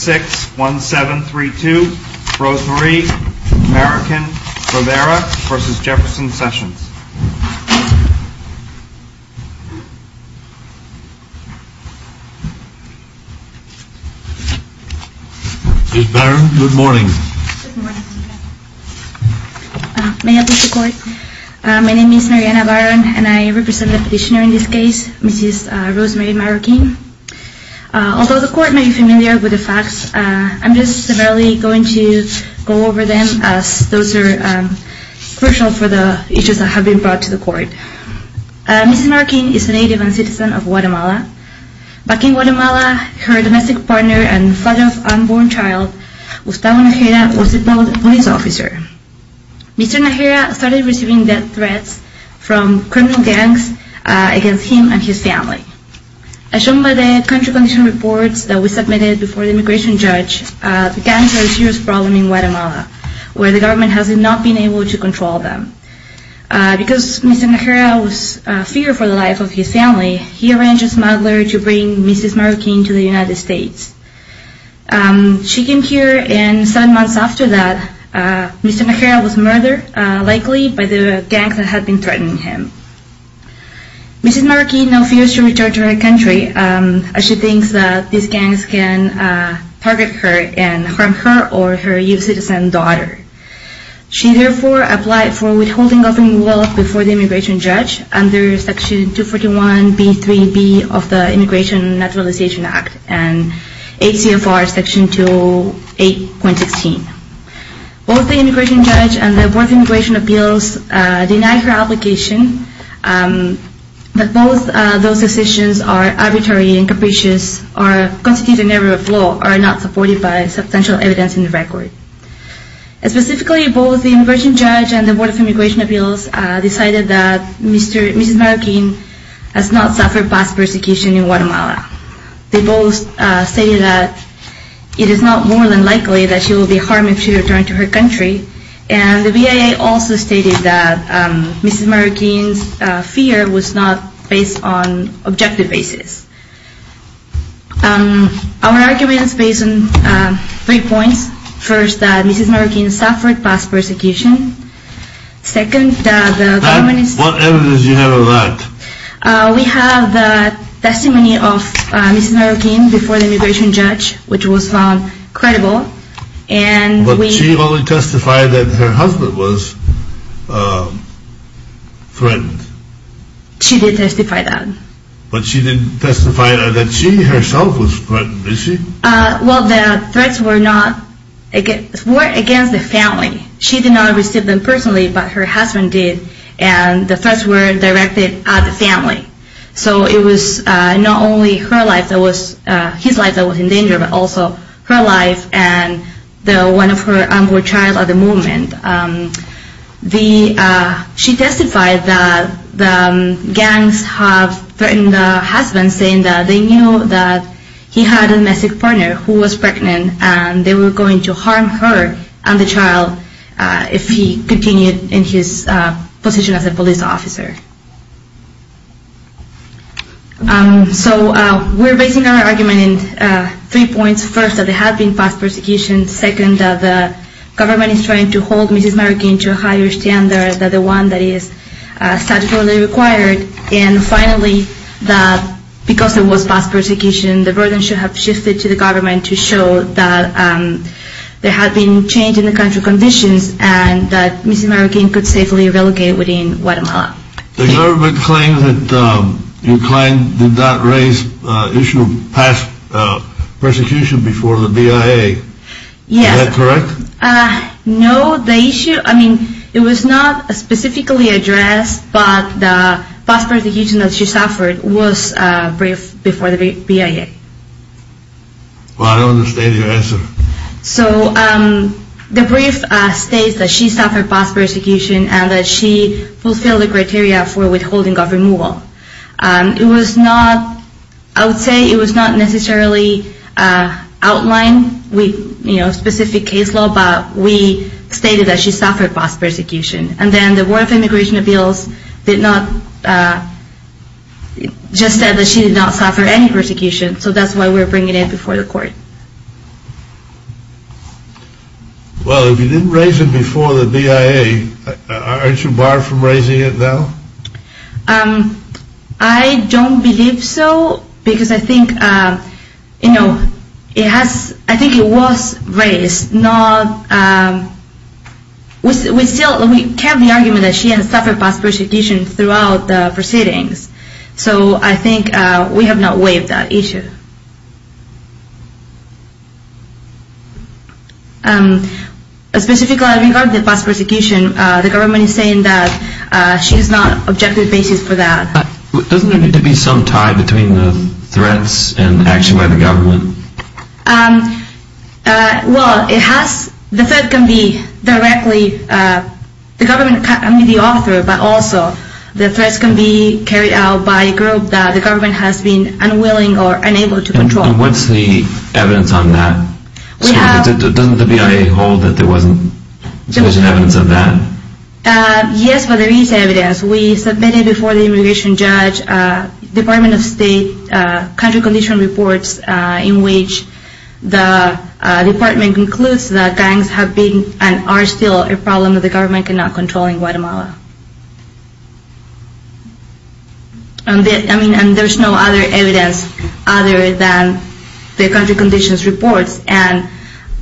61732 Rosemarie Marroquin-Rivera v. Jefferson-Sessions Baron, good morning May I please report? My name is Mariana Baron and I represent the petitioner in this case, Mrs. Rosemary Marroquin Although the court may be familiar with the facts, I'm just severely going to go over them as those are crucial for the issues that have been brought to the court Mrs. Marroquin is a native and citizen of Guatemala. Back in Guatemala, her domestic partner and father of unborn child, Gustavo Najera, was a police officer Mr. Najera started receiving death threats from criminal gangs against him and his family As shown by the country condition reports that we submitted before the immigration judge, the gangs are a serious problem in Guatemala, where the government has not been able to control them Because Mr. Najera feared for the life of his family, he arranged a smuggler to bring Mrs. Marroquin to the United States She came here and seven months after that, Mr. Najera was murdered, likely by the gangs that had been threatening him Mrs. Marroquin now fears to return to her country as she thinks that these gangs can target her and harm her or her U.S. citizen daughter She therefore applied for withholding government wealth before the immigration judge under Section 241B3B of the Immigration Naturalization Act and ACFR Section 208.16 Both the immigration judge and the Board of Immigration Appeals denied her application, but both those decisions are arbitrary and capricious or constitute an error of law or are not supported by substantial evidence in the record Specifically, both the immigration judge and the Board of Immigration Appeals decided that Mrs. Marroquin has not suffered past persecution in Guatemala They both stated that it is not more than likely that she will be harmed if she returns to her country And the BIA also stated that Mrs. Marroquin's fear was not based on objective basis Our argument is based on three points First, that Mrs. Marroquin suffered past persecution Second, that the government is... What evidence do you have of that? We have the testimony of Mrs. Marroquin before the immigration judge, which was found credible But she only testified that her husband was threatened She did testify that But she didn't testify that she herself was threatened, did she? Well, the threats were against the family She did not receive them personally, but her husband did And the threats were directed at the family So it was not only his life that was in danger, but also her life and one of her unborn child at the moment She testified that the gangs have threatened her husband, saying that they knew that he had a domestic partner who was pregnant And they were going to harm her and the child if he continued in his position as a police officer So we're basing our argument on three points First, that there has been past persecution Second, that the government is trying to hold Mrs. Marroquin to a higher standard than the one that is statutorily required And finally, that because there was past persecution, the burden should have shifted to the government to show that there had been change in the country's conditions And that Mrs. Marroquin could safely relegate within Guatemala The government claims that your client did not raise the issue of past persecution before the BIA Yes Is that correct? No, the issue, I mean, it was not specifically addressed, but the past persecution that she suffered was briefed before the BIA Well, I don't understand your answer So the brief states that she suffered past persecution and that she fulfilled the criteria for withholding of removal It was not, I would say, it was not necessarily outlined with specific case law, but we stated that she suffered past persecution And then the Board of Immigration Appeals did not, just said that she did not suffer any persecution So that's why we're bringing it before the court Well, if you didn't raise it before the BIA, aren't you barred from raising it now? I don't believe so, because I think, you know, it has, I think it was raised, not, we still, we kept the argument that she had suffered past persecution throughout the proceedings So I think we have not waived that issue Specifically regarding the past persecution, the government is saying that she does not have an objective basis for that Doesn't there need to be some tie between the threats and action by the government? Well, it has, the threat can be directly, the government can be the author, but also the threats can be carried out by a group that the government has been unwilling or unable to control And what's the evidence on that? Doesn't the BIA hold that there wasn't sufficient evidence of that? Yes, but there is evidence. We submitted before the immigration judge, Department of State, country condition reports, in which the department concludes that gangs have been and are still a problem that the government cannot control in Guatemala And there's no other evidence other than the country conditions reports and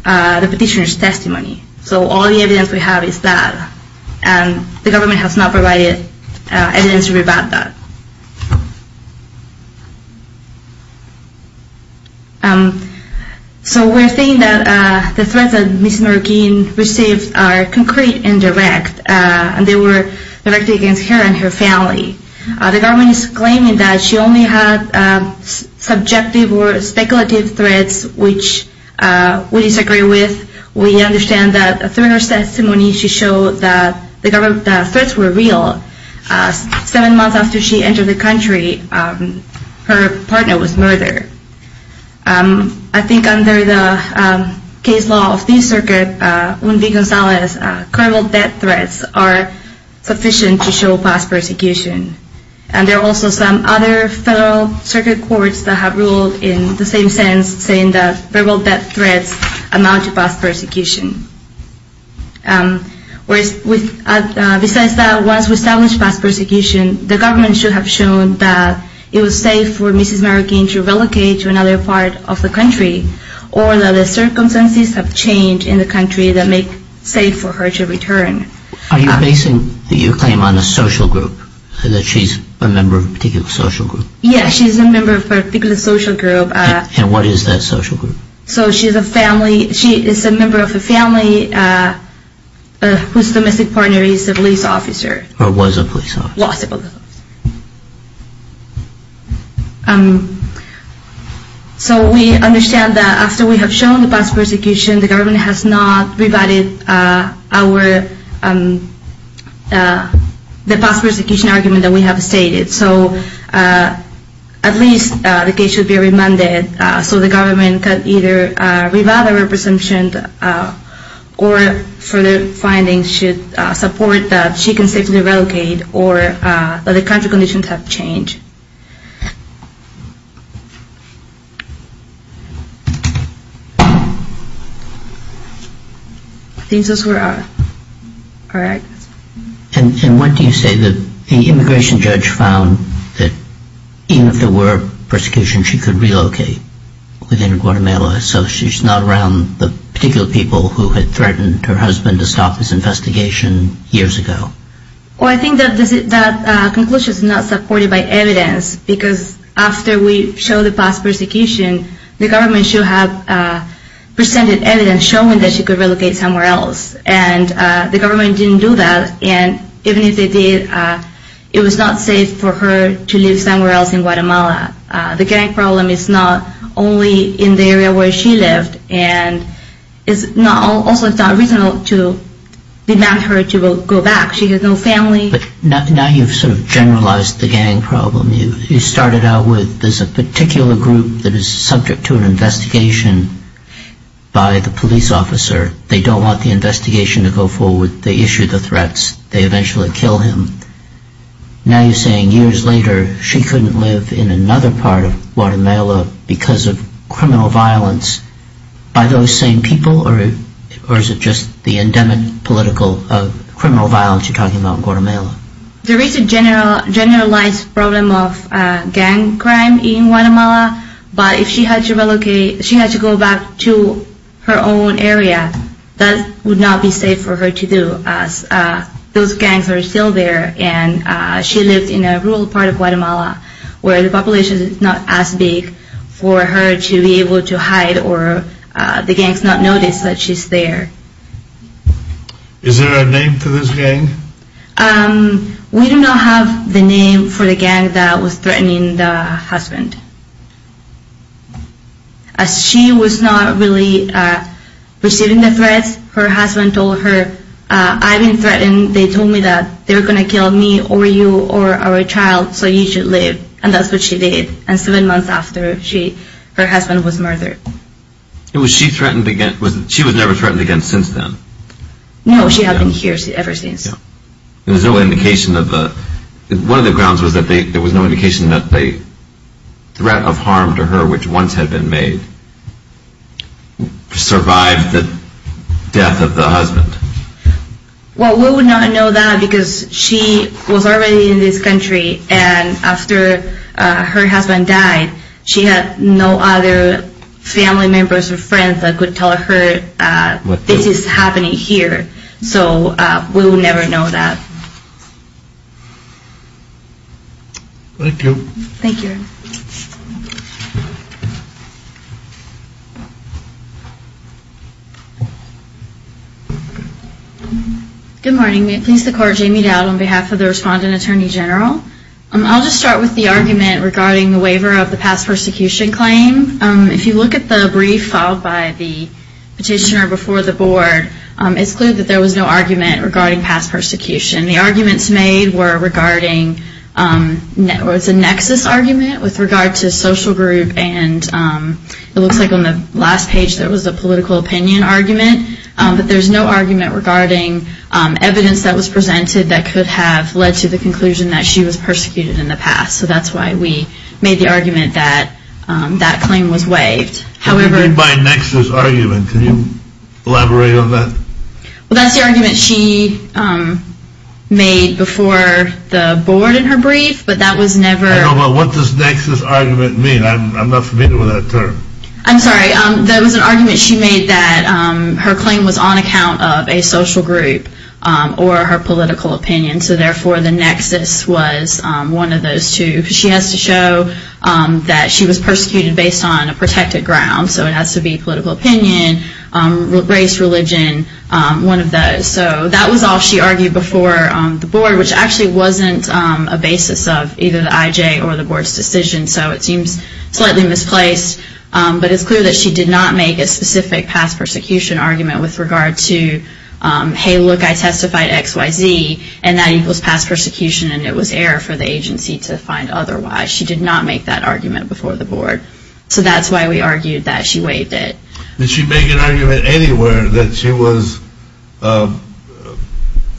the petitioner's testimony, so all the evidence we have is that, and the government has not provided evidence to rebut that So we're saying that the threats that Ms. Merguin received are concrete and direct, and they were directed against her and her family The government is claiming that she only had subjective or speculative threats, which we disagree with We understand that through her testimony, she showed that the threats were real. Seven months after she entered the country, her partner was murdered I think under the case law of this circuit, Un Vigonzales, criminal death threats are sufficient to show past persecution And there are also some other federal circuit courts that have ruled in the same sense, saying that criminal death threats amount to past persecution Besides that, once we establish past persecution, the government should have shown that it was safe for Ms. Merguin to relocate to another part of the country, or that the circumstances have changed in the country that make it safe for her to return Are you basing your claim on a social group, that she's a member of a particular social group? Yes, she's a member of a particular social group And what is that social group? So she's a member of a family whose domestic partner is a police officer Or was a police officer Was a police officer So we understand that after we have shown the past persecution, the government has not rebutted the past persecution argument that we have stated So at least the case should be remanded, so the government can either revile the presumption, or further findings should support that she can safely relocate, or that the country conditions have changed And what do you say that the immigration judge found, that even if there were persecution, she could relocate within Guatemala, so she's not around the particular people who had threatened her husband to stop his investigation years ago? I think that conclusion is not supported by evidence, because after we show the past persecution, the government should have presented evidence showing that she could relocate somewhere else And the government didn't do that, and even if they did, it was not safe for her to live somewhere else in Guatemala The gang problem is not only in the area where she lived, and also it's not reasonable to demand her to go back, she has no family But now you've sort of generalized the gang problem, you started out with this particular group that is subject to an investigation by the police officer They don't want the investigation to go forward, they issue the threats, they eventually kill him Now you're saying years later, she couldn't live in another part of Guatemala because of criminal violence by those same people, or is it just the endemic political criminal violence you're talking about in Guatemala? There is a generalized problem of gang crime in Guatemala, but if she had to go back to her own area, that would not be safe for her to do, as those gangs are still there And she lived in a rural part of Guatemala, where the population is not as big for her to be able to hide, or the gangs not notice that she's there Is there a name for this gang? We do not have the name for the gang that was threatening the husband She was not really receiving the threats, her husband told her, I've been threatened, they told me that they were going to kill me, or you, or our child, so you should leave And that's what she did, and seven months after, her husband was murdered She was never threatened again since then? No, she hasn't been here ever since One of the grounds was that there was no indication that the threat of harm to her, which once had been made, survived the death of the husband Well, we would not know that, because she was already in this country, and after her husband died, she had no other family members or friends that could tell her, this is happening here, so we would never know that Thank you Good morning, may it please the court, Jamie Dowd on behalf of the Respondent Attorney General I'll just start with the argument regarding the waiver of the past persecution claim If you look at the brief filed by the petitioner before the board, it's clear that there was no argument regarding past persecution The arguments made were regarding a nexus argument with regard to social group, and it looks like on the last page there was a political opinion argument But there's no argument regarding evidence that was presented that could have led to the conclusion that she was persecuted in the past So that's why we made the argument that that claim was waived What do you mean by a nexus argument, can you elaborate on that? Well that's the argument she made before the board in her brief, but that was never What does nexus argument mean, I'm not familiar with that term I'm sorry, that was an argument she made that her claim was on account of a social group, or her political opinion, so therefore the nexus was one of those two She has to show that she was persecuted based on a protected ground, so it has to be political opinion, race, religion, one of those So that was all she argued before the board, which actually wasn't a basis of either the IJ or the board's decision So it seems slightly misplaced, but it's clear that she did not make a specific past persecution argument with regard to Hey look I testified X, Y, Z, and that equals past persecution and it was error for the agency to find otherwise She did not make that argument before the board, so that's why we argued that she waived it Did she make an argument anywhere that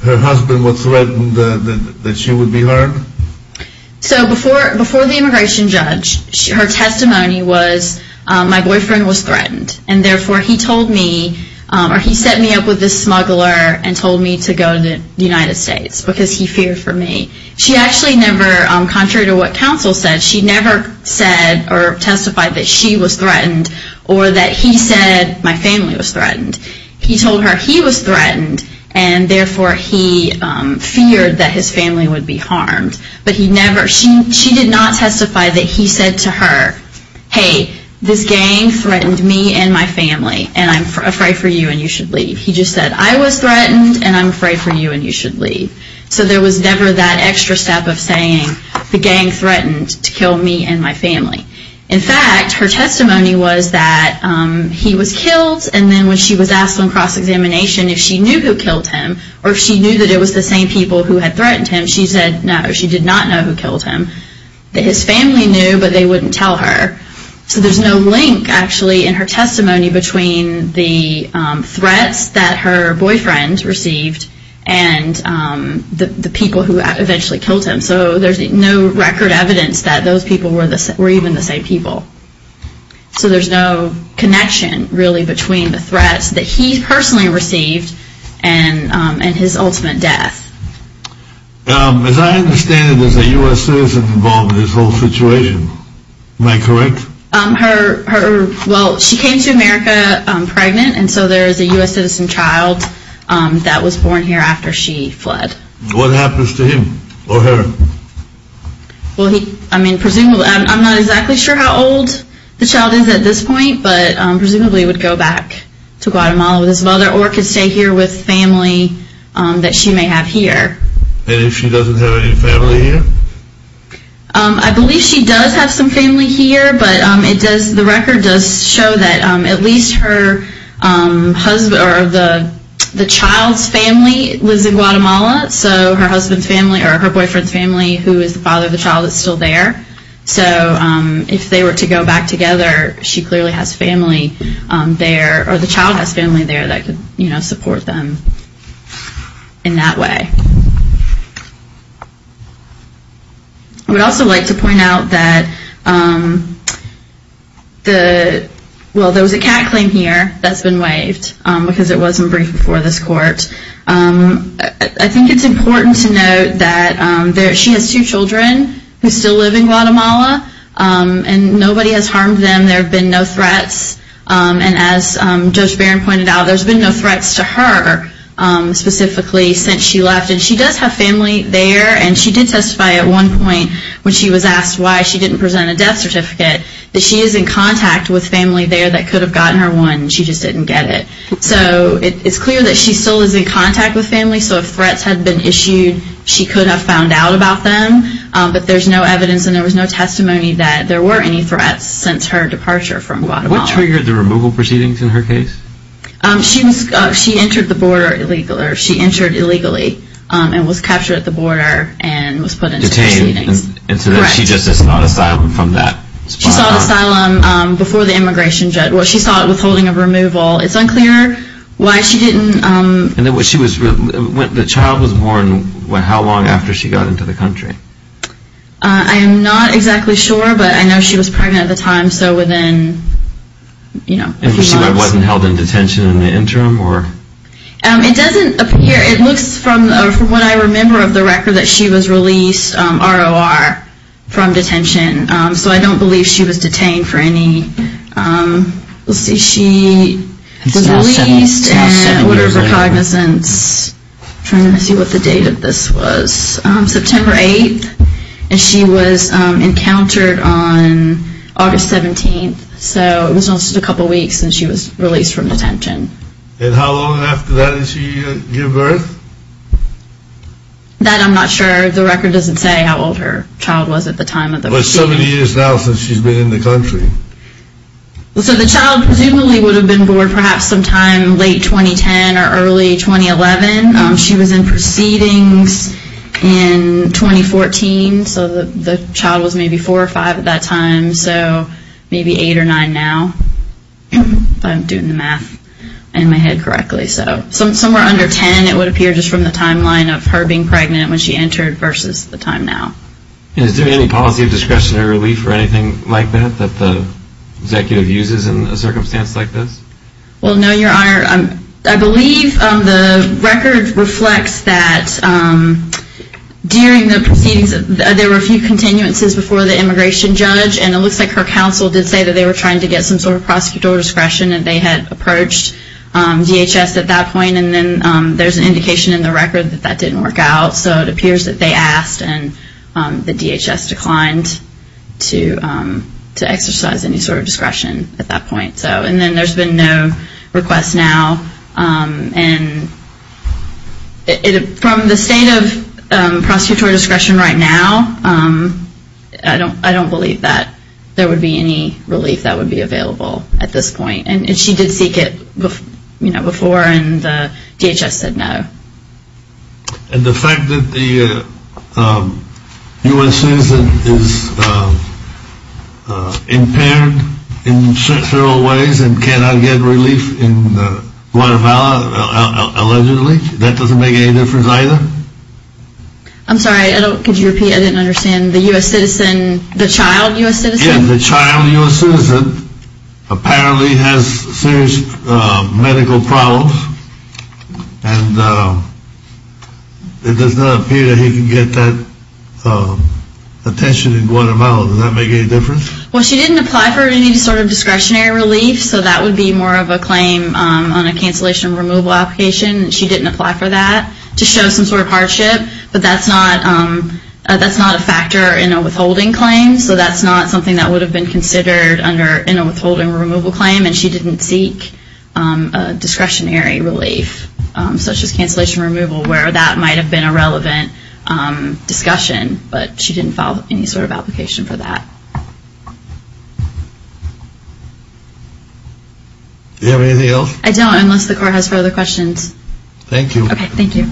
her husband was threatened that she would be heard? So before the immigration judge, her testimony was my boyfriend was threatened And therefore he told me, or he set me up with this smuggler and told me to go to the United States because he feared for me She actually never, contrary to what counsel said, she never said or testified that she was threatened or that he said my family was threatened He told her he was threatened and therefore he feared that his family would be harmed She did not testify that he said to her, hey this gang threatened me and my family and I'm afraid for you and you should leave He just said I was threatened and I'm afraid for you and you should leave So there was never that extra step of saying the gang threatened to kill me and my family In fact, her testimony was that he was killed and then when she was asked on cross-examination if she knew who killed him Or if she knew that it was the same people who had threatened him, she said no, she did not know who killed him His family knew but they wouldn't tell her So there's no link actually in her testimony between the threats that her boyfriend received and the people who eventually killed him So there's no record evidence that those people were even the same people So there's no connection really between the threats that he personally received and his ultimate death As I understand it, there's a U.S. citizen involved in this whole situation, am I correct? Well, she came to America pregnant and so there's a U.S. citizen child that was born here after she fled What happens to him or her? I'm not exactly sure how old the child is at this point but presumably would go back to Guatemala with his mother Or could stay here with family that she may have here And if she doesn't have any family here? I believe she does have some family here but the record does show that at least the child's family lives in Guatemala So her boyfriend's family who is the father of the child is still there So if they were to go back together, she clearly has family there Or the child has family there that could support them in that way I would also like to point out that there was a cat claim here that's been waived I think it's important to note that she has two children who still live in Guatemala And nobody has harmed them, there have been no threats And as Judge Barron pointed out, there's been no threats to her specifically since she left And she does have family there and she did testify at one point when she was asked why she didn't present a death certificate That she is in contact with family there that could have gotten her one, she just didn't get it So it's clear that she still is in contact with family So if threats had been issued, she could have found out about them But there's no evidence and there was no testimony that there were any threats since her departure from Guatemala What triggered the removal proceedings in her case? She entered illegally and was captured at the border and was put into proceedings Detained and she just is not asylum from that spot on She sought asylum before the immigration judge, well she sought withholding of removal It's unclear why she didn't And the child was born how long after she got into the country? I'm not exactly sure, but I know she was pregnant at the time, so within a few months And she wasn't held in detention in the interim? It doesn't appear, it looks from what I remember of the record that she was released ROR from detention So I don't believe she was detained for any, let's see, she was released and what is her cognizance Trying to see what the date of this was, September 8th And she was encountered on August 17th, so it was just a couple weeks since she was released from detention And how long after that did she give birth? That I'm not sure, the record doesn't say how old her child was at the time of the proceedings But 70 years now since she's been in the country So the child presumably would have been born perhaps sometime late 2010 or early 2011 She was in proceedings in 2014, so the child was maybe 4 or 5 at that time So maybe 8 or 9 now, if I'm doing the math in my head correctly Somewhere under 10 it would appear just from the timeline of her being pregnant when she entered versus the time now And is there any policy of discretionary relief or anything like that that the executive uses in a circumstance like this? Well no your honor, I believe the record reflects that during the proceedings There were a few continuances before the immigration judge And it looks like her counsel did say that they were trying to get some sort of prosecutorial discretion And they had approached DHS at that point And then there's an indication in the record that that didn't work out So it appears that they asked and the DHS declined to exercise any sort of discretion at that point And then there's been no request now And from the state of prosecutorial discretion right now I don't believe that there would be any relief that would be available at this point And she did seek it before and DHS said no And the fact that the U.S. citizen is impaired in several ways and cannot get relief in Guatemala allegedly That doesn't make any difference either? I'm sorry could you repeat I didn't understand the U.S. citizen, the child U.S. citizen? The child U.S. citizen apparently has serious medical problems And it does not appear that he can get that attention in Guatemala Does that make any difference? Well she didn't apply for any sort of discretionary relief So that would be more of a claim on a cancellation removal application She didn't apply for that to show some sort of hardship But that's not a factor in a withholding claim So that's not something that would have been considered in a withholding removal claim And she didn't seek a discretionary relief Such as cancellation removal where that might have been a relevant discussion But she didn't file any sort of application for that Do you have anything else? I don't unless the court has further questions Thank you Okay thank you Thank you